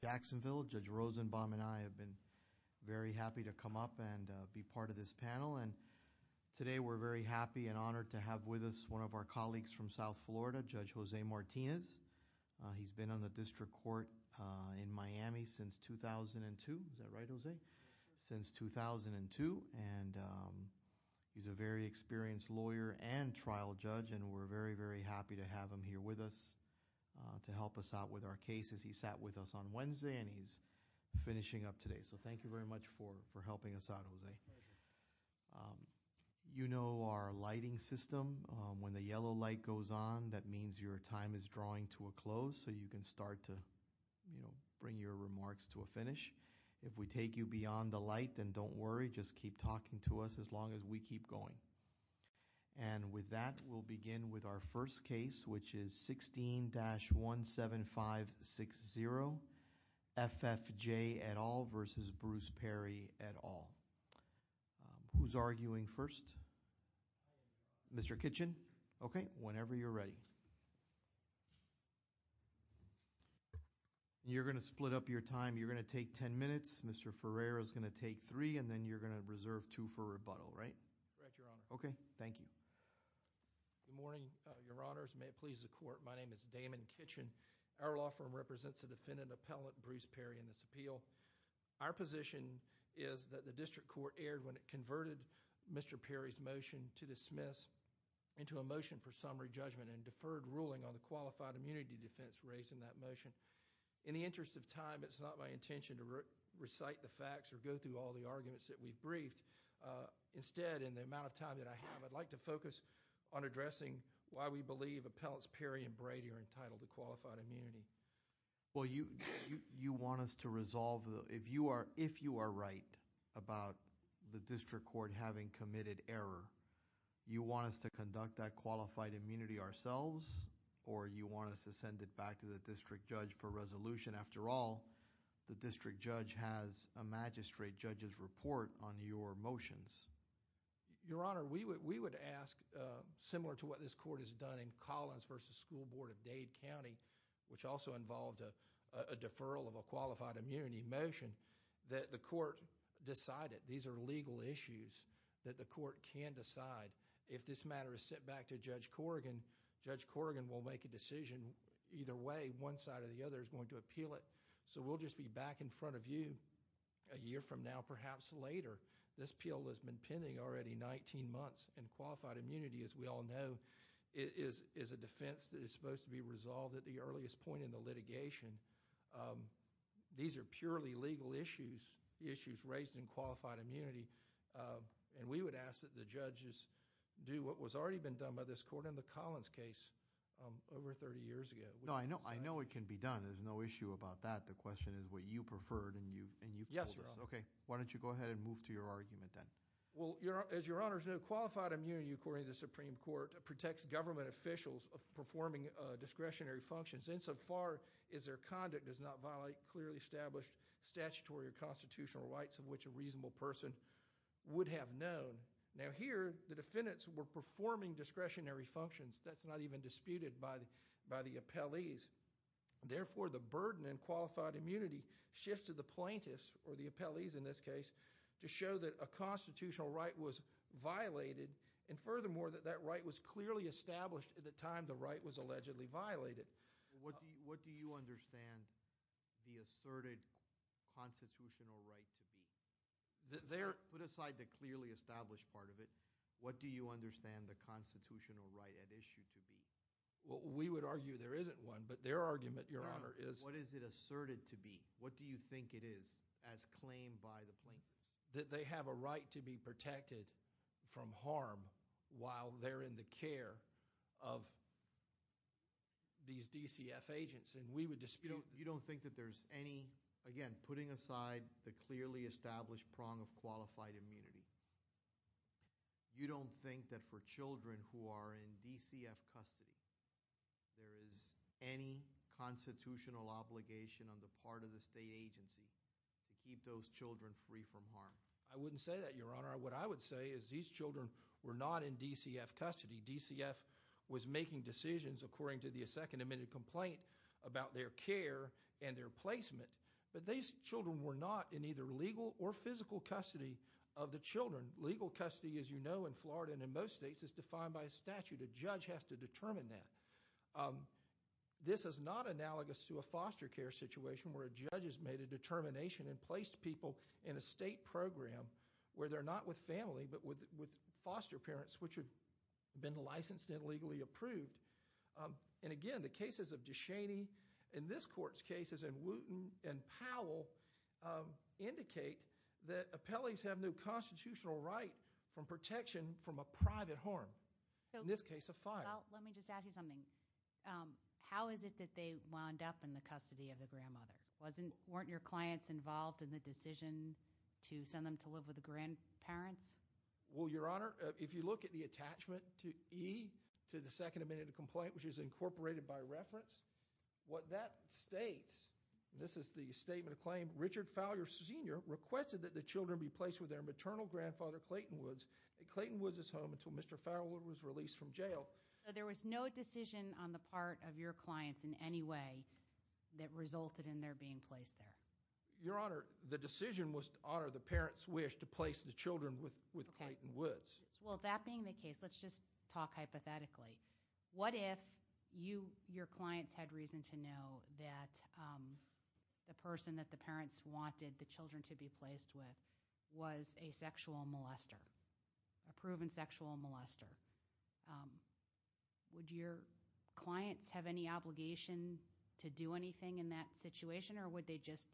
Jacksonville. Judge Rosenbaum and I have been very happy to come up and be part of this panel and today we're very happy and honored to have with us one of our colleagues from South Florida, Judge Jose Martinez. He's been on the district court in Miami since 2002, is that right Jose? Since 2002 and he's a very experienced lawyer and trial judge and we're very, very happy to have him here with us to help us out with our cases. He sat with us on Wednesday and he's finishing up today so thank you very much for helping us out Jose. You know our lighting system, when the yellow light goes on that means your time is drawing to a close so you can start to bring your remarks to a finish. If we take you beyond the light then don't worry, just keep talking to us as long as we keep going. And with that we'll begin with our first case which is 16-17560, F.F.J. et al. v. Bruce Perry et al. Who's arguing first? Mr. Kitchen? Okay, whenever you're ready. You're going to split up your time, you're going to take 10 minutes, Mr. Ferreira is going to take 3 and then you're going to reserve 2 for rebuttal, right? Correct, Your Honor. Okay, thank you. Good morning, Your Honors, may it please the court, my name is Damon Kitchen. Our law firm represents the defendant appellant Bruce Perry in this appeal. Our position is that the district court erred when it converted Mr. Perry's motion to dismiss into a motion for summary judgment and deferred ruling on the qualified immunity defense raised in that motion. In the interest of time, it's not my intention to recite the facts or go through all the in the amount of time that I have, I'd like to focus on addressing why we believe appellants Perry and Brady are entitled to qualified immunity. Well, you want us to resolve, if you are right about the district court having committed error, you want us to conduct that qualified immunity ourselves or you want us to send it back to the district judge for resolution? After all, the district judge has a magistrate judge's report on your motions. Your Honor, we would ask, similar to what this court has done in Collins v. School Board of Dade County, which also involved a deferral of a qualified immunity motion, that the court decide it. These are legal issues that the court can decide. If this matter is sent back to Judge Corrigan, Judge Corrigan will make a decision either way. One side or the other is going to appeal it. We'll just be back in front of you a year from now, perhaps later. This appeal has been pending already 19 months. Qualified immunity, as we all know, is a defense that is supposed to be resolved at the earliest point in the litigation. These are purely legal issues, issues raised in qualified immunity. We would ask that the judges do what has already been done by this court in the Collins case over 30 years ago. I know it can be done. There's no issue about that. The question is what you preferred, and you pulled this. Yes, Your Honor. Why don't you go ahead and move to your argument then? As Your Honors know, qualified immunity, according to the Supreme Court, protects government officials of performing discretionary functions. Insofar as their conduct does not violate clearly established statutory or constitutional rights of which a reasonable person would have known. Here, the defendants were performing discretionary functions. That's not even disputed by the appellees. Therefore, the burden in qualified immunity shifts to the plaintiffs, or the appellees in this case, to show that a constitutional right was violated, and furthermore, that that right was clearly established at the time the right was allegedly violated. What do you understand the asserted constitutional right to be? Put aside the clearly established part of it. What do you understand the constitutional right at issue to be? We would argue there isn't one, but their argument, Your Honor, is... What is it asserted to be? What do you think it is as claimed by the plaintiffs? That they have a right to be protected from harm while they're in the care of these DCF agents, and we would dispute... You don't think that there's any... again, putting aside the clearly established prong of qualified immunity, you don't think that for children who are in DCF custody, there is any constitutional obligation on the part of the state agency to keep those children free from harm? I wouldn't say that, Your Honor. What I would say is these children were not in DCF custody. DCF was making decisions, according to the Second Amendment complaint, about their care and their placement, but these children were not in either legal or physical custody of the children. Legal custody, as you know, in Florida and in most states, is defined by a statute. A judge has to determine that. This is not analogous to a foster care situation where a judge has made a determination and placed people in a state program where they're not with family, but with foster parents, which have been licensed and legally approved. Again, the cases of DeShaney in this court's case, as in Wooten and Powell, indicate that appellees have no constitutional right from protection from a private harm, in this case, a fine. Let me just ask you something. How is it that they wound up in the custody of the grandmother? Weren't your clients involved in the decision to send them to live with the grandparents? Well, Your Honor, if you look at the attachment to E to the Second Amendment complaint, which is incorporated by reference, what that states, this is the statement of claim, Richard Fowler Sr. requested that the children be placed with their maternal grandfather, Clayton Woods. Clayton Woods is home until Mr. Fowler was released from jail. So there was no decision on the part of your clients in any way that resulted in their being placed there? Your Honor, the decision was to honor the parents' wish to place the children with Clayton Woods. Well, that being the case, let's just talk hypothetically. What if your clients had reason to know that the person that the parents wanted the children to be placed with was a sexual molester, a proven sexual molester? Would your clients have any obligation to do anything in that situation, or would they just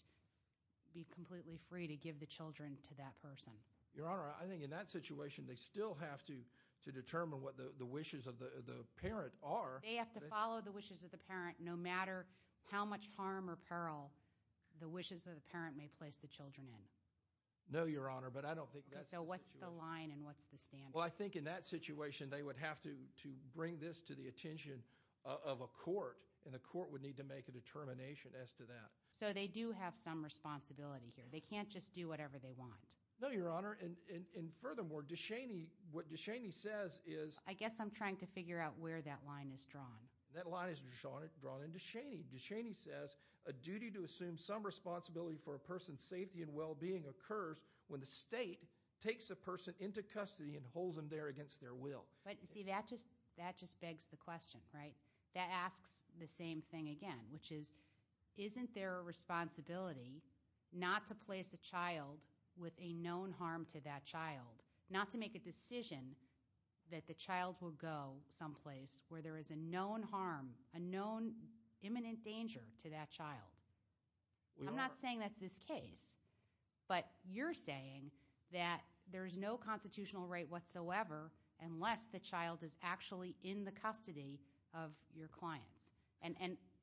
be completely free to give the children to that person? Your Honor, I think in that situation, they still have to determine what the wishes of the parent are. They have to follow the wishes of the parent no matter how much harm or peril the wishes of the parent may place the children in. No, Your Honor, but I don't think that's the situation. So what's the line and what's the standard? Well, I think in that situation, they would have to bring this to the attention of a court, and a court would need to make a determination as to that. So they do have some responsibility here. They can't just do whatever they want. No, Your Honor, and furthermore, what DeShaney says is— I guess I'm trying to figure out where that line is drawn. That line is drawn in DeShaney. DeShaney says, A duty to assume some responsibility for a person's safety and well-being occurs when the state takes a person into custody and holds them there against their will. But, see, that just begs the question, right? That asks the same thing again, which is, isn't there a responsibility not to place a child with a known harm to that child, not to make a decision that the child will go someplace where there is a known harm, a known imminent danger to that child? We are. I'm not saying that's this case. But you're saying that there's no constitutional right whatsoever unless the child is actually in the custody of your clients.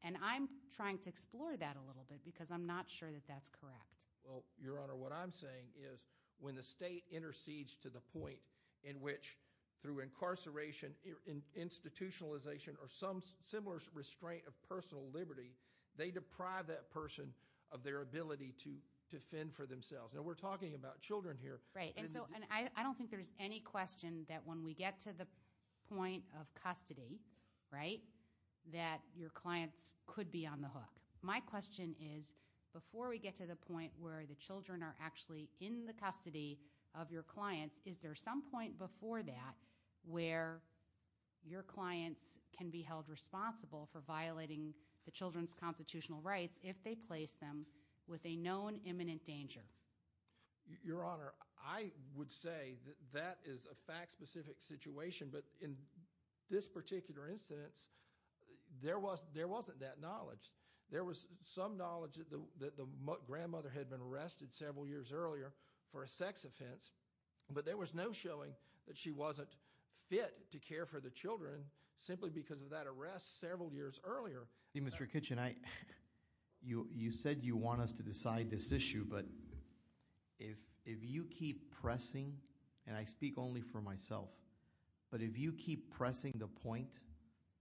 And I'm trying to explore that a little bit because I'm not sure that that's correct. Well, Your Honor, what I'm saying is when the state intercedes to the point in which, through incarceration, institutionalization, or some similar restraint of personal liberty, they deprive that person of their ability to fend for themselves. Now, we're talking about children here. Right, and so I don't think there's any question that when we get to the point of custody, right, that your clients could be on the hook. My question is, before we get to the point where the children are actually in the custody of your clients, is there some point before that where your clients can be held responsible for violating the children's constitutional rights if they place them with a known imminent danger? Your Honor, I would say that that is a fact-specific situation. But in this particular instance, there wasn't that knowledge. There was some knowledge that the grandmother had been arrested several years earlier for a sex offense. But there was no showing that she wasn't fit to care for the children simply because of that arrest several years earlier. Mr. Kitchen, you said you want us to decide this issue. But if you keep pressing, and I speak only for myself. But if you keep pressing the point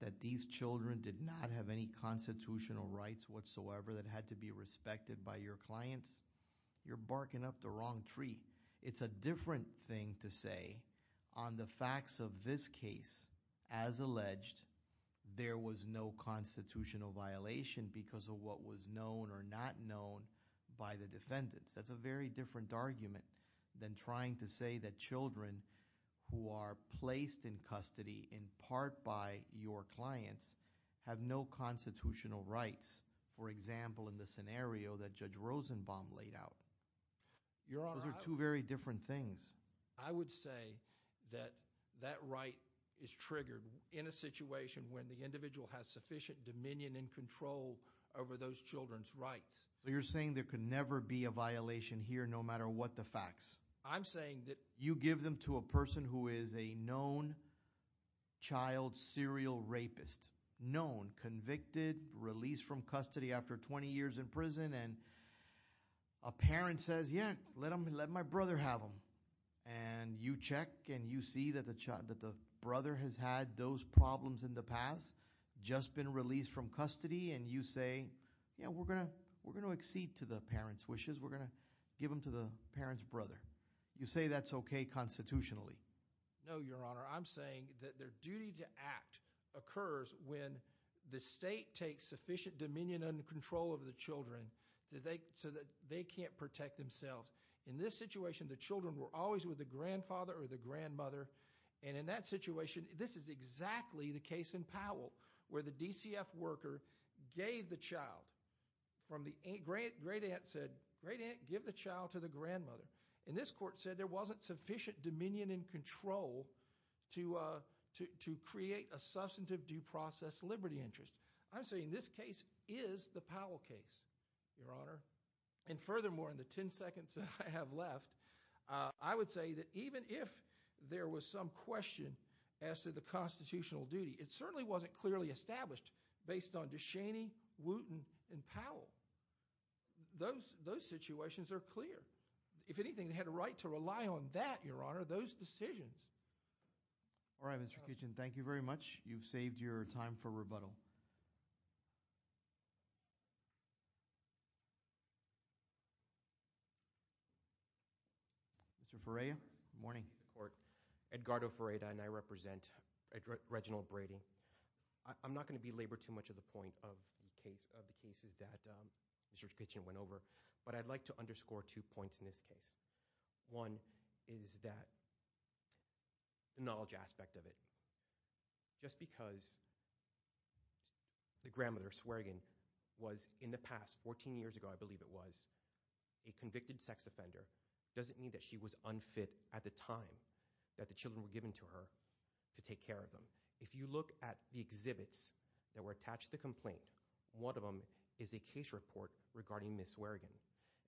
that these children did not have any constitutional rights whatsoever that had to be respected by your clients, you're barking up the wrong tree. It's a different thing to say on the facts of this case. As alleged, there was no constitutional violation because of what was known or not known by the defendants. That's a very different argument than trying to say that children who are placed in custody in part by your clients have no constitutional rights. For example, in the scenario that Judge Rosenbaum laid out. Your Honor- Those are two very different things. I would say that that right is triggered in a situation when the individual has sufficient dominion and control over those children's rights. You're saying there could never be a violation here no matter what the facts. I'm saying that- You give them to a person who is a known child serial rapist. Known, convicted, released from custody after 20 years in prison. And a parent says, yeah, let my brother have them. And you check and you see that the brother has had those problems in the past, just been released from custody. And you say, yeah, we're going to accede to the parent's wishes. We're going to give them to the parent's brother. You say that's okay constitutionally. No, Your Honor. I'm saying that their duty to act occurs when the state takes sufficient dominion and control over the children so that they can't protect themselves. In this situation, the children were always with the grandfather or the grandmother. And in that situation, this is exactly the case in Powell where the DCF worker gave the child from the- Great aunt said, great aunt, give the child to the grandmother. And this court said there wasn't sufficient dominion and control to create a substantive due process liberty interest. I'm saying this case is the Powell case, Your Honor. And furthermore, in the 10 seconds that I have left, I would say that even if there was some question as to the constitutional duty, it certainly wasn't clearly established based on DeShaney, Wooten, and Powell. Those situations are clear. If anything, they had a right to rely on that, Your Honor, those decisions. All right, Mr. Kitchen. Thank you very much. You've saved your time for rebuttal. Mr. Ferreira. Good morning, court. Edgardo Ferreira, and I represent Reginald Brady. I'm not going to belabor too much of the point of the cases that Mr. Kitchen went over. But I'd like to underscore two points in this case. One is that knowledge aspect of it. Just because the grandmother, Swearegan, was in the past, 14 years ago I believe it was, a convicted sex offender, doesn't mean that she was unfit at the time that the children were given to her to take care of them. If you look at the exhibits that were attached to the complaint, one of them is a case report regarding Ms. Swearegan.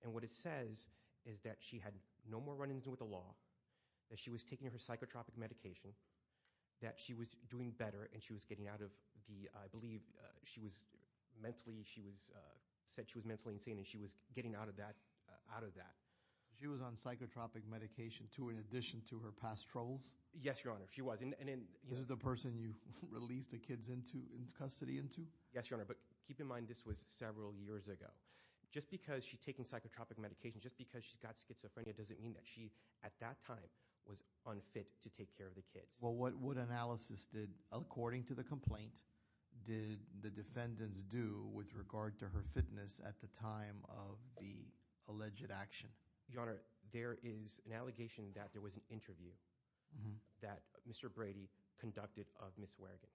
And what it says is that she had no more run-ins with the law, that she was taking her psychotropic medication, that she was doing better and she was getting out of the, I believe she was mentally, she said she was mentally insane and she was getting out of that. She was on psychotropic medication too in addition to her past troubles? Yes, Your Honor, she was. This is the person you released the kids into custody into? Yes, Your Honor, but keep in mind this was several years ago. Just because she's taking psychotropic medication, just because she's got schizophrenia, doesn't mean that she, at that time, was unfit to take care of the kids. Well, what analysis did, according to the complaint, did the defendants do with regard to her fitness at the time of the alleged action? Your Honor, there is an allegation that there was an interview that Mr. Brady conducted of Ms. Swearegan.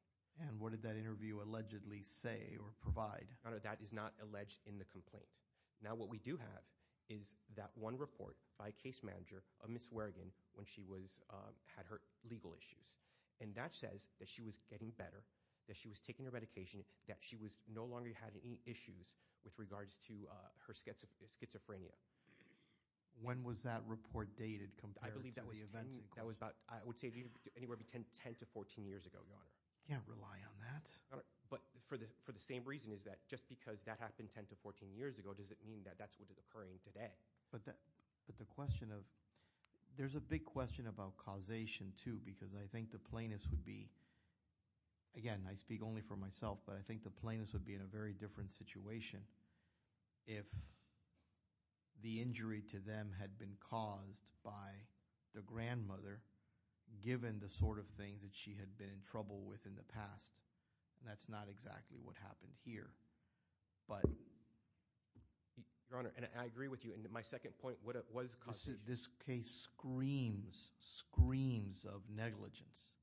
And what did that interview allegedly say or provide? Your Honor, that is not alleged in the complaint. Now what we do have is that one report by a case manager of Ms. Swearegan when she had her legal issues. And that says that she was getting better, that she was taking her medication, that she no longer had any issues with regards to her schizophrenia. When was that report dated compared to the events? I would say anywhere between 10 to 14 years ago, Your Honor. I can't rely on that. But for the same reason is that just because that happened 10 to 14 years ago, does it mean that that's what is occurring today? But the question of – there's a big question about causation too because I think the plaintiffs would be – but I think the plaintiffs would be in a very different situation if the injury to them had been caused by the grandmother, given the sort of things that she had been in trouble with in the past. And that's not exactly what happened here. But- Your Honor, and I agree with you. And my second point, what is causation? This case screams, screams of negligence.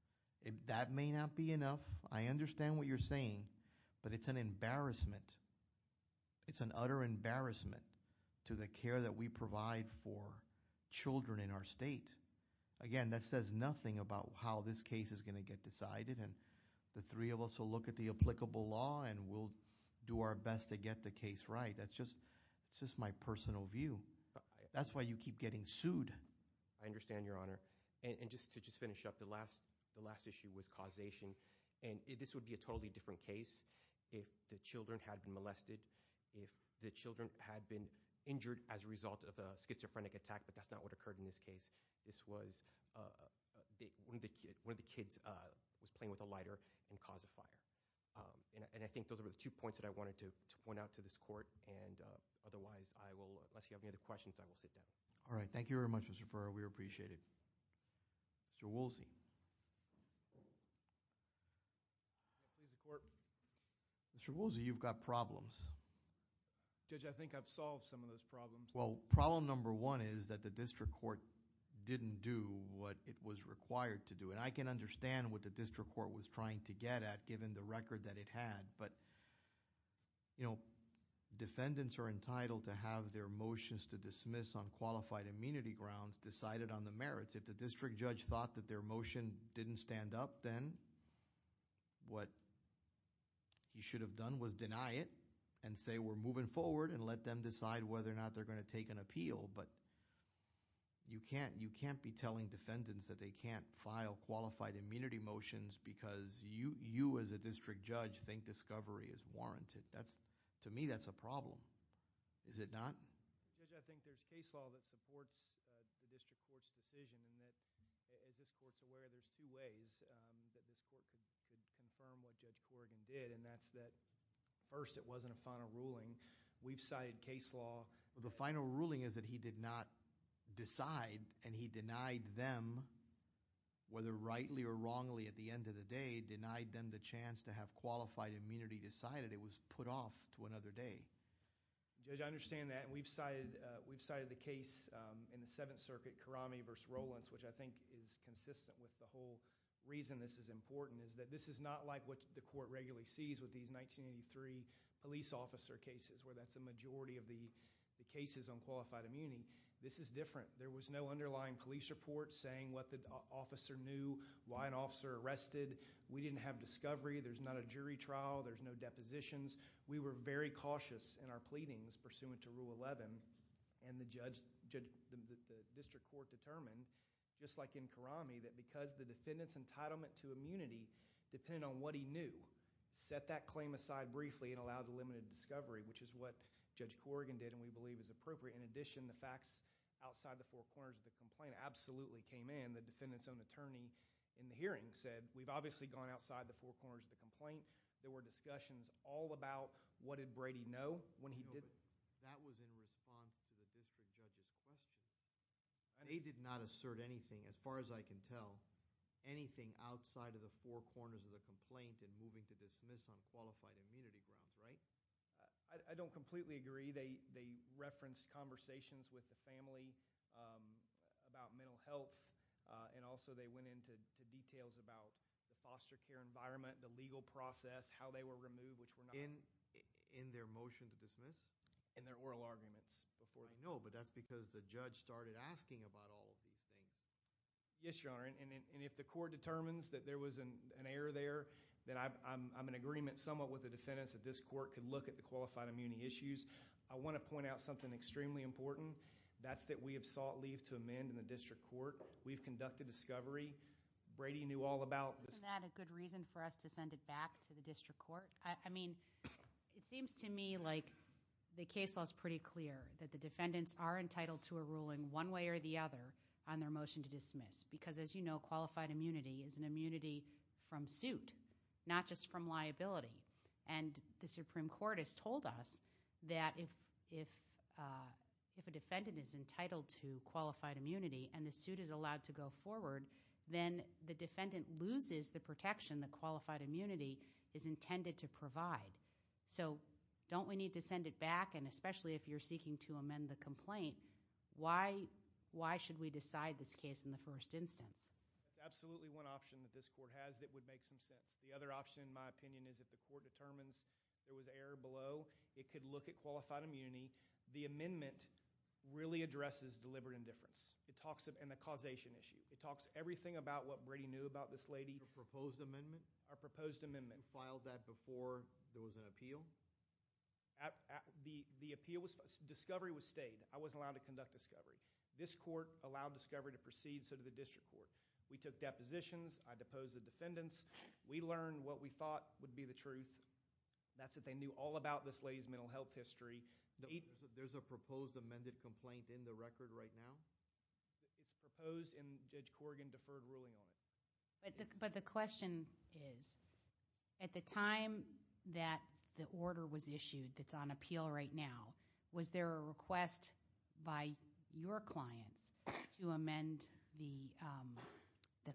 That may not be enough. I understand what you're saying, but it's an embarrassment. It's an utter embarrassment to the care that we provide for children in our state. Again, that says nothing about how this case is going to get decided. And the three of us will look at the applicable law and we'll do our best to get the case right. That's just my personal view. That's why you keep getting sued. I understand, Your Honor. And just to finish up, the last issue was causation. And this would be a totally different case if the children had been molested, if the children had been injured as a result of a schizophrenic attack, but that's not what occurred in this case. This was one of the kids was playing with a lighter and caused a fire. And I think those are the two points that I wanted to point out to this court. And otherwise, unless you have any other questions, I will sit down. All right. Thank you very much, Mr. Ferrer. We appreciate it. Mr. Woolsey. Mr. Woolsey, you've got problems. Judge, I think I've solved some of those problems. Well, problem number one is that the district court didn't do what it was required to do. And I can understand what the district court was trying to get at given the record that it had. But defendants are entitled to have their motions to dismiss on qualified immunity grounds decided on the merits. If the district judge thought that their motion didn't stand up, then what you should have done was deny it and say, we're moving forward and let them decide whether or not they're going to take an appeal. But you can't be telling defendants that they can't file qualified immunity motions because you, as a district judge, think discovery is warranted. To me, that's a problem. Is it not? Judge, I think there's case law that supports the district court's decision in that, as this court's aware, there's two ways that this court could confirm what Judge Corrigan did, and that's that, first, it wasn't a final ruling. We've cited case law. The final ruling is that he did not decide, and he denied them, whether rightly or wrongly at the end of the day, denied them the chance to have qualified immunity decided. It was put off to another day. Judge, I understand that, and we've cited the case in the Seventh Circuit, Karame v. Rollins, which I think is consistent with the whole reason this is important, is that this is not like what the court regularly sees with these 1983 police officer cases where that's the majority of the cases on qualified immunity. This is different. There was no underlying police report saying what the officer knew, why an officer arrested. We didn't have discovery. There's not a jury trial. There's no depositions. We were very cautious in our pleadings pursuant to Rule 11, and the district court determined, just like in Karame, that because the defendant's entitlement to immunity depended on what he knew, set that claim aside briefly and allowed the limited discovery, which is what Judge Corrigan did and we believe is appropriate. In addition, the facts outside the four corners of the complaint absolutely came in. The defendant's own attorney in the hearing said, we've obviously gone outside the four corners of the complaint. There were discussions all about what did Brady know when he did it. No, but that was in response to the district judge's question. They did not assert anything, as far as I can tell, anything outside of the four corners of the complaint in moving to dismiss on qualified immunity grounds, right? I don't completely agree. They referenced conversations with the family about mental health, and also they went into details about the foster care environment, the legal process, how they were removed, which were not. In their motion to dismiss? In their oral arguments. I know, but that's because the judge started asking about all of these things. Yes, Your Honor, and if the court determines that there was an error there, then I'm in agreement somewhat with the defendants that this court could look at the qualified immunity issues. I want to point out something extremely important. That's that we have sought leave to amend in the district court. We've conducted discovery. Brady knew all about this. Isn't that a good reason for us to send it back to the district court? I mean, it seems to me like the case law is pretty clear, that the defendants are entitled to a ruling one way or the other on their motion to dismiss because, as you know, qualified immunity is an immunity from suit, not just from liability. And the Supreme Court has told us that if a defendant is entitled to qualified immunity and the suit is allowed to go forward, then the defendant loses the protection that qualified immunity is intended to provide. So don't we need to send it back? And especially if you're seeking to amend the complaint, why should we decide this case in the first instance? Absolutely one option that this court has that would make some sense. The other option, in my opinion, is if the court determines there was error below, it could look at qualified immunity. The amendment really addresses deliberate indifference and the causation issue. It talks everything about what Brady knew about this lady. A proposed amendment? A proposed amendment. You filed that before there was an appeal? The appeal was – discovery was stayed. I wasn't allowed to conduct discovery. This court allowed discovery to proceed, so did the district court. We took depositions. I deposed the defendants. We learned what we thought would be the truth. That's what they knew all about this lady's mental health history. There's a proposed amended complaint in the record right now? It's proposed, and Judge Corrigan deferred ruling on it. But the question is, at the time that the order was issued that's on appeal right now, was there a request by your clients to amend the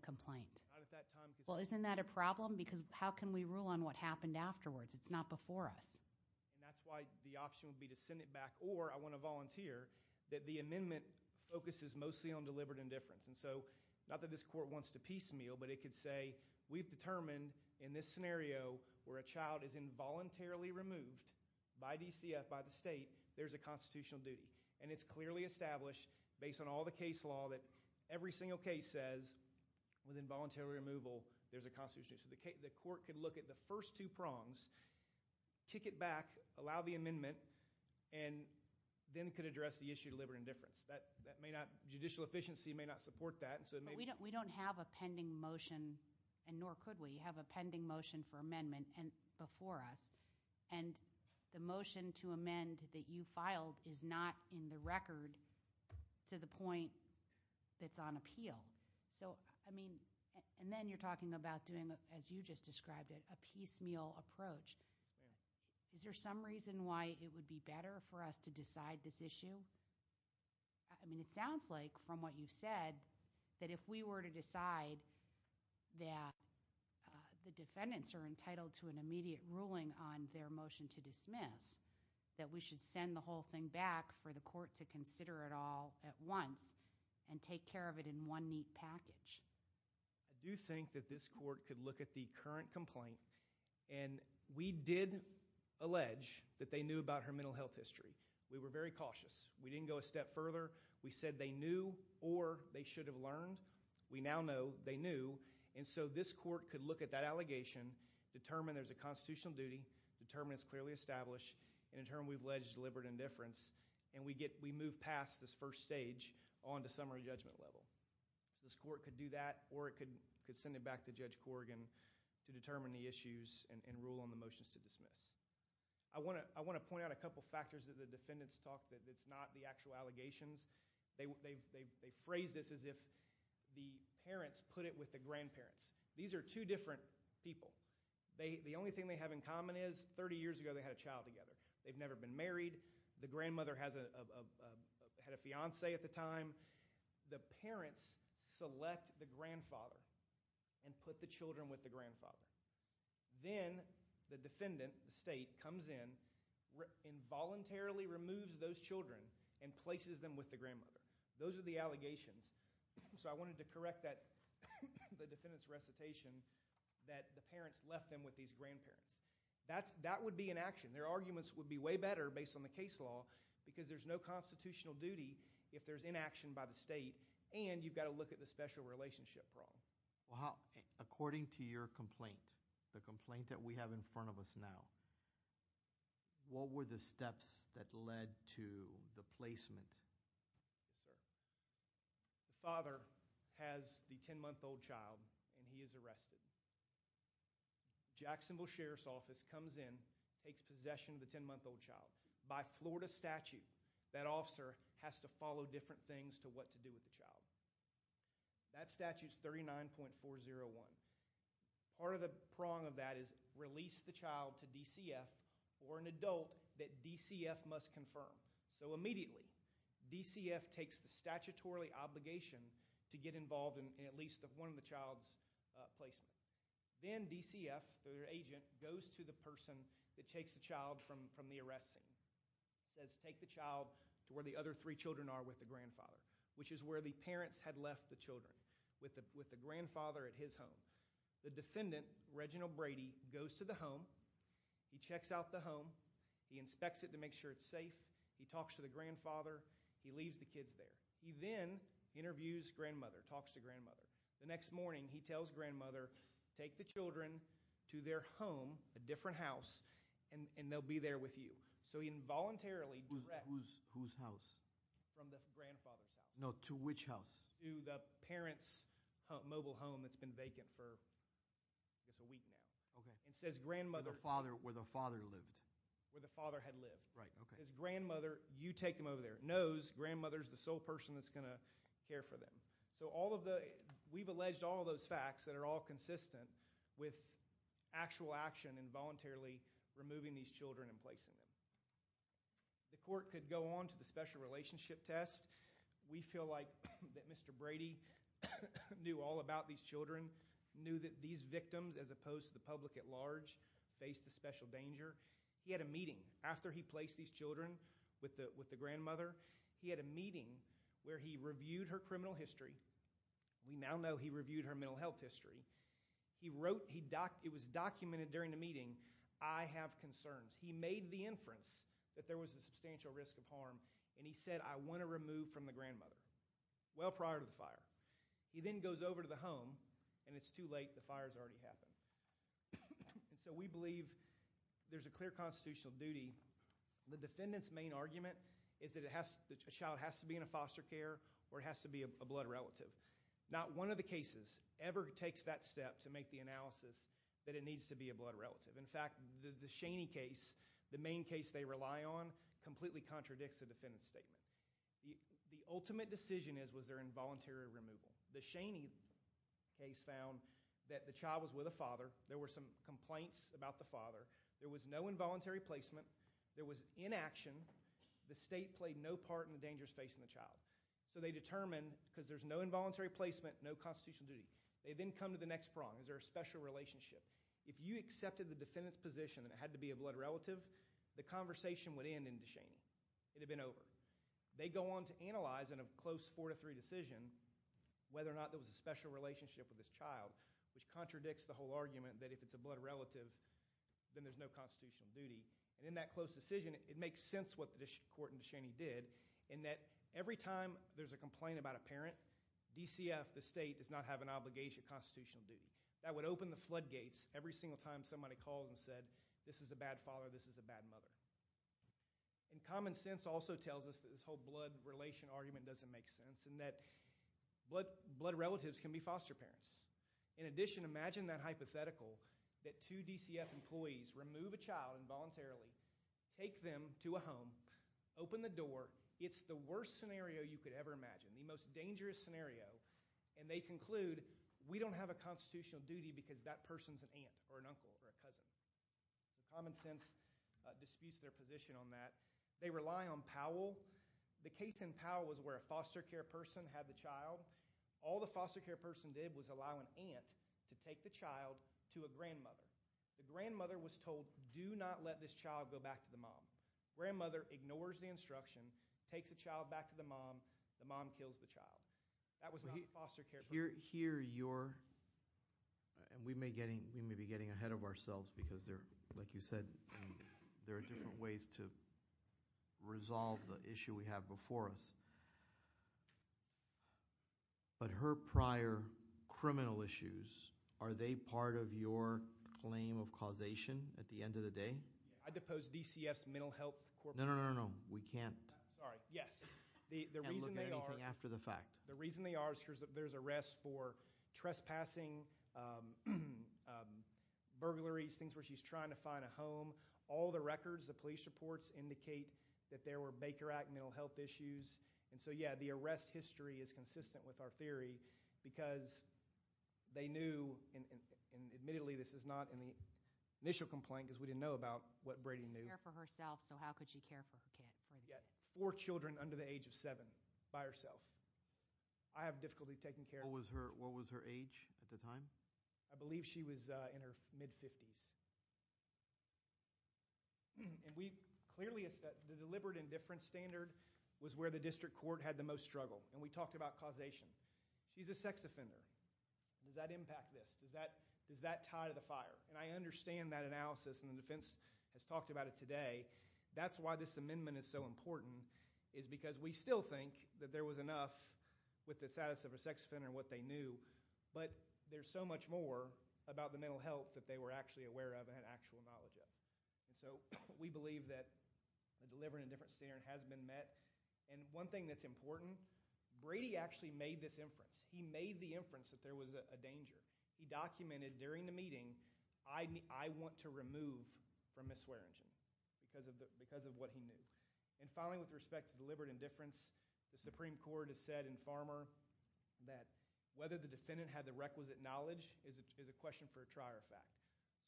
complaint? Not at that time. Well, isn't that a problem? Because how can we rule on what happened afterwards? It's not before us. That's why the option would be to send it back, or I want to volunteer, that the amendment focuses mostly on deliberate indifference. Not that this court wants to piecemeal, but it could say we've determined in this scenario where a child is involuntarily removed by DCF, by the state, there's a constitutional duty. And it's clearly established, based on all the case law, that every single case says with involuntary removal, there's a constitutional duty. So the court could look at the first two prongs, kick it back, allow the amendment, and then could address the issue of deliberate indifference. Judicial efficiency may not support that. But we don't have a pending motion, and nor could we, have a pending motion for amendment before us. And the motion to amend that you filed is not in the record to the point that's on appeal. So, I mean, and then you're talking about doing, as you just described it, a piecemeal approach. Is there some reason why it would be better for us to decide this issue? I mean, it sounds like, from what you've said, that if we were to decide that the defendants are entitled to an immediate ruling on their motion to dismiss, that we should send the whole thing back for the court to consider it all at once and take care of it in one neat package. I do think that this court could look at the current complaint, and we did allege that they knew about her mental health history. We were very cautious. We didn't go a step further. We said they knew or they should have learned. We now know they knew. And so this court could look at that allegation, determine there's a constitutional duty, determine it's clearly established, and determine we've alleged deliberate indifference, and we move past this first stage on to summary judgment level. This court could do that, or it could send it back to Judge Corrigan to determine the issues and rule on the motions to dismiss. I want to point out a couple factors that the defendants talked, that it's not the actual allegations. They phrased this as if the parents put it with the grandparents. These are two different people. The only thing they have in common is 30 years ago they had a child together. They've never been married. The grandmother had a fiancé at the time. The parents select the grandfather and put the children with the grandfather. Then the defendant, the state, comes in, involuntarily removes those children and places them with the grandmother. Those are the allegations. So I wanted to correct the defendant's recitation that the parents left them with these grandparents. That would be inaction. Their arguments would be way better based on the case law because there's no constitutional duty if there's inaction by the state, and you've got to look at the special relationship problem. According to your complaint, the complaint that we have in front of us now, what were the steps that led to the placement? The father has the 10-month-old child, and he is arrested. Jacksonville Sheriff's Office comes in, takes possession of the 10-month-old child. By Florida statute, that officer has to follow different things to what to do with the child. That statute is 39.401. Part of the prong of that is release the child to DCF or an adult that DCF must confirm. So immediately, DCF takes the statutorily obligation to get involved in at least one of the child's placement. Then DCF, their agent, goes to the person that takes the child from the arrest scene, says take the child to where the other three children are with the grandfather, which is where the parents had left the children, with the grandfather at his home. The defendant, Reginald Brady, goes to the home. He checks out the home. He inspects it to make sure it's safe. He talks to the grandfather. He leaves the kids there. He then interviews grandmother, talks to grandmother. The next morning, he tells grandmother, take the children to their home, a different house, and they'll be there with you. So he involuntarily directs. Whose house? From the grandfather's house. No, to which house? To the parent's mobile home that's been vacant for just a week now. Okay. And says grandmother. Where the father lived. Where the father had lived. Right, okay. Says grandmother, you take them over there. Knows grandmother's the sole person that's going to care for them. So we've alleged all those facts that are all consistent with actual action in voluntarily removing these children and placing them. The court could go on to the special relationship test. We feel like that Mr. Brady knew all about these children, knew that these victims, as opposed to the public at large, faced a special danger. He had a meeting after he placed these children with the grandmother. He had a meeting where he reviewed her criminal history. We now know he reviewed her mental health history. He wrote, it was documented during the meeting, I have concerns. He made the inference that there was a substantial risk of harm, and he said, I want to remove from the grandmother. Well prior to the fire. He then goes over to the home, and it's too late. The fire's already happened. So we believe there's a clear constitutional duty. The defendant's main argument is that a child has to be in a foster care or has to be a blood relative. Not one of the cases ever takes that step to make the analysis that it needs to be a blood relative. In fact, the Shaney case, the main case they rely on, completely contradicts the defendant's statement. The ultimate decision is was there involuntary removal. The Shaney case found that the child was with a father. There were some complaints about the father. There was no involuntary placement. There was inaction. The state played no part in the dangers facing the child. So they determine, because there's no involuntary placement, no constitutional duty. They then come to the next prong. Is there a special relationship? If you accepted the defendant's position that it had to be a blood relative, the conversation would end in DeShaney. It had been over. They go on to analyze in a close 4-3 decision whether or not there was a special relationship with this child, which contradicts the whole argument that if it's a blood relative, then there's no constitutional duty. In that close decision, it makes sense what the court in DeShaney did in that every time there's a complaint about a parent, DCF, the state, does not have an obligation of constitutional duty. That would open the floodgates every single time somebody called and said, this is a bad father, this is a bad mother. Common sense also tells us that this whole blood relation argument doesn't make sense and that blood relatives can be foster parents. In addition, imagine that hypothetical, that two DCF employees remove a child involuntarily, take them to a home, open the door. It's the worst scenario you could ever imagine, the most dangerous scenario, and they conclude, we don't have a constitutional duty because that person's an aunt or an uncle or a cousin. Common sense disputes their position on that. They rely on Powell. The case in Powell was where a foster care person had the child. All the foster care person did was allow an aunt to take the child to a grandmother. The grandmother was told, do not let this child go back to the mom. Grandmother ignores the instruction, takes the child back to the mom, the mom kills the child. That was not the foster care person. Here you're, and we may be getting ahead of ourselves because, like you said, there are different ways to resolve the issue we have before us. But her prior criminal issues, are they part of your claim of causation at the end of the day? I depose DCF's mental health corporation. No, no, no, no, we can't. All right, yes. And look at anything after the fact. The reason they are is because there's arrests for trespassing, burglaries, things where she's trying to find a home. All the records, the police reports, indicate that there were Baker Act mental health issues. And so, yeah, the arrest history is consistent with our theory because they knew, and admittedly this is not in the initial complaint because we didn't know about what Brady knew. She didn't care for herself, so how could she care for her kid? Four children under the age of seven by herself. I have difficulty taking care of her. What was her age at the time? I believe she was in her mid-50s. Clearly, the deliberate indifference standard was where the district court had the most struggle, and we talked about causation. She's a sex offender. Does that impact this? Does that tie to the fire? And I understand that analysis, and the defense has talked about it today. That's why this amendment is so important is because we still think that there was enough with the status of a sex offender and what they knew, but there's so much more about the mental health that they were actually aware of and had actual knowledge of. So we believe that the deliberate indifference standard has been met. And one thing that's important, Brady actually made this inference. He made the inference that there was a danger. He documented during the meeting, I want to remove from Ms. Waringen because of what he knew. And finally, with respect to deliberate indifference, the Supreme Court has said in Farmer that whether the defendant had the requisite knowledge is a question for a trier of fact.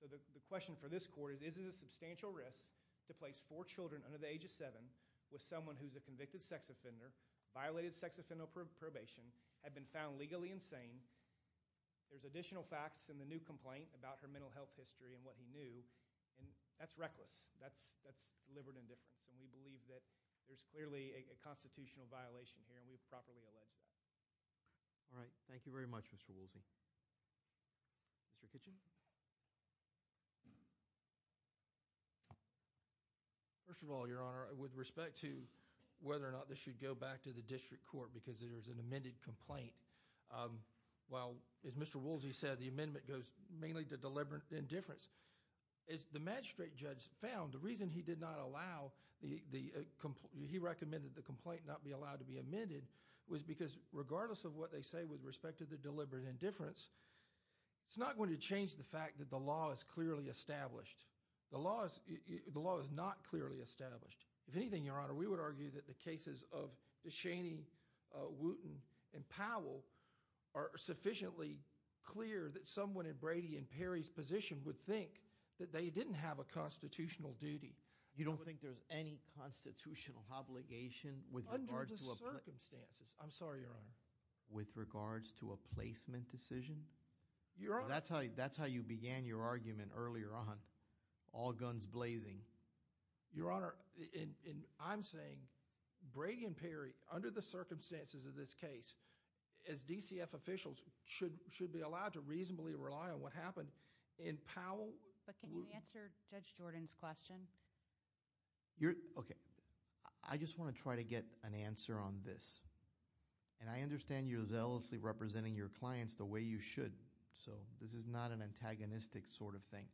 So the question for this court is, is it a substantial risk to place four children under the age of seven with someone who's a convicted sex offender, violated sex offender probation, had been found legally insane? There's additional facts in the new complaint about her mental health history and what he knew, and that's reckless. That's deliberate indifference, and we believe that there's clearly a constitutional violation here, and we've properly alleged that. All right, thank you very much, Mr. Woolsey. Mr. Kitchen? First of all, Your Honor, with respect to whether or not this should go back to the district court because there's an amended complaint, well, as Mr. Woolsey said, the amendment goes mainly to deliberate indifference. As the magistrate judge found, the reason he did not allow the complaint, he recommended the complaint not be allowed to be amended was because regardless of what they say with respect to the deliberate indifference, it's not going to change the fact that the law is clearly established. The law is not clearly established. If anything, Your Honor, we would argue that the cases of DeShaney, Wooten, and Powell are sufficiently clear that someone in Brady and Perry's position would think that they didn't have a constitutional duty. You don't think there's any constitutional obligation under the circumstances? I'm sorry, Your Honor. With regards to a placement decision? Your Honor. That's how you began your argument earlier on, all guns blazing. Your Honor, I'm saying Brady and Perry, under the circumstances of this case, as DCF officials, should be allowed to reasonably rely on what happened in Powell. But can you answer Judge Jordan's question? Okay. I just want to try to get an answer on this. And I understand you're zealously representing your clients the way you should, so this is not an antagonistic sort of thing.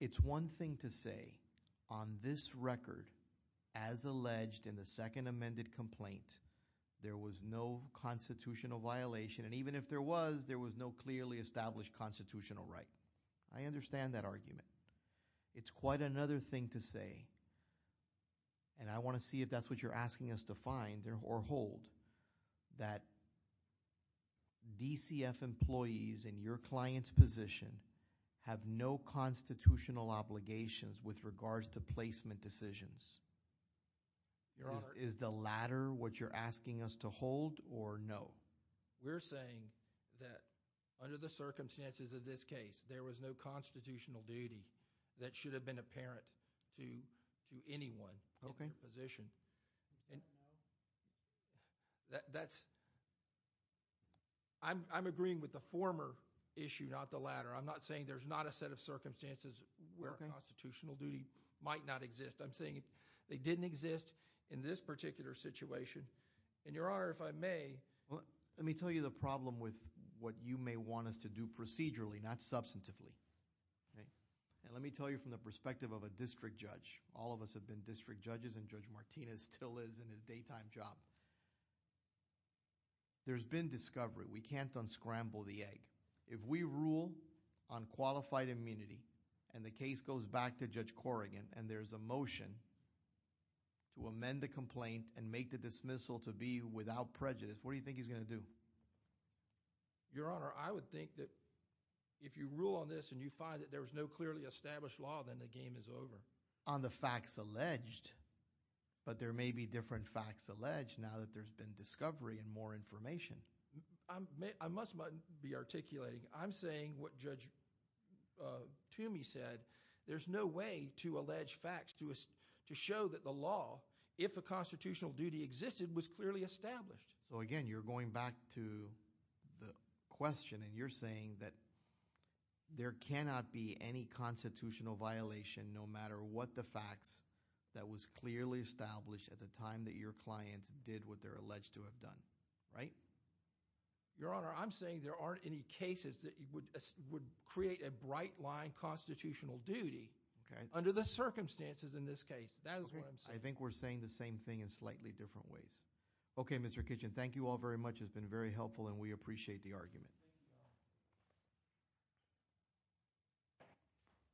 It's one thing to say, on this record, as alleged in the second amended complaint, there was no constitutional violation, and even if there was, there was no clearly established constitutional right. I understand that argument. It's quite another thing to say, and I want to see if that's what you're asking us to find or hold, that DCF employees in your client's position have no constitutional obligations with regards to placement decisions. Your Honor. Is the latter what you're asking us to hold or no? We're saying that under the circumstances of this case, there was no constitutional duty that should have been apparent to anyone in your position. Okay. And that's, I'm agreeing with the former issue, not the latter. I'm not saying there's not a set of circumstances where a constitutional duty might not exist. I'm saying they didn't exist in this particular situation. And, Your Honor, if I may. Let me tell you the problem with what you may want us to do procedurally, not substantively. Okay. And let me tell you from the perspective of a district judge. All of us have been district judges and Judge Martinez still is in his daytime job. There's been discovery. We can't unscramble the egg. If we rule on qualified immunity and the case goes back to Judge Corrigan and there's a motion to amend the complaint and make the dismissal to be without prejudice, what do you think he's going to do? Your Honor, I would think that if you rule on this and you find that there's no clearly established law, then the game is over. On the facts alleged, but there may be different facts alleged now that there's been discovery and more information. I must be articulating. I'm saying what Judge Toomey said. There's no way to allege facts to show that the law, if a constitutional duty existed, was clearly established. So again, you're going back to the question and you're saying that there cannot be any constitutional violation no matter what the facts that was clearly established at the time that your clients did what they're alleged to have done, right? Your Honor, I'm saying there aren't any cases that would create a bright line constitutional duty under the circumstances in this case. That is what I'm saying. I think we're saying the same thing in slightly different ways. Okay, Mr. Kitchen. Thank you all very much. It's been very helpful and we appreciate the argument.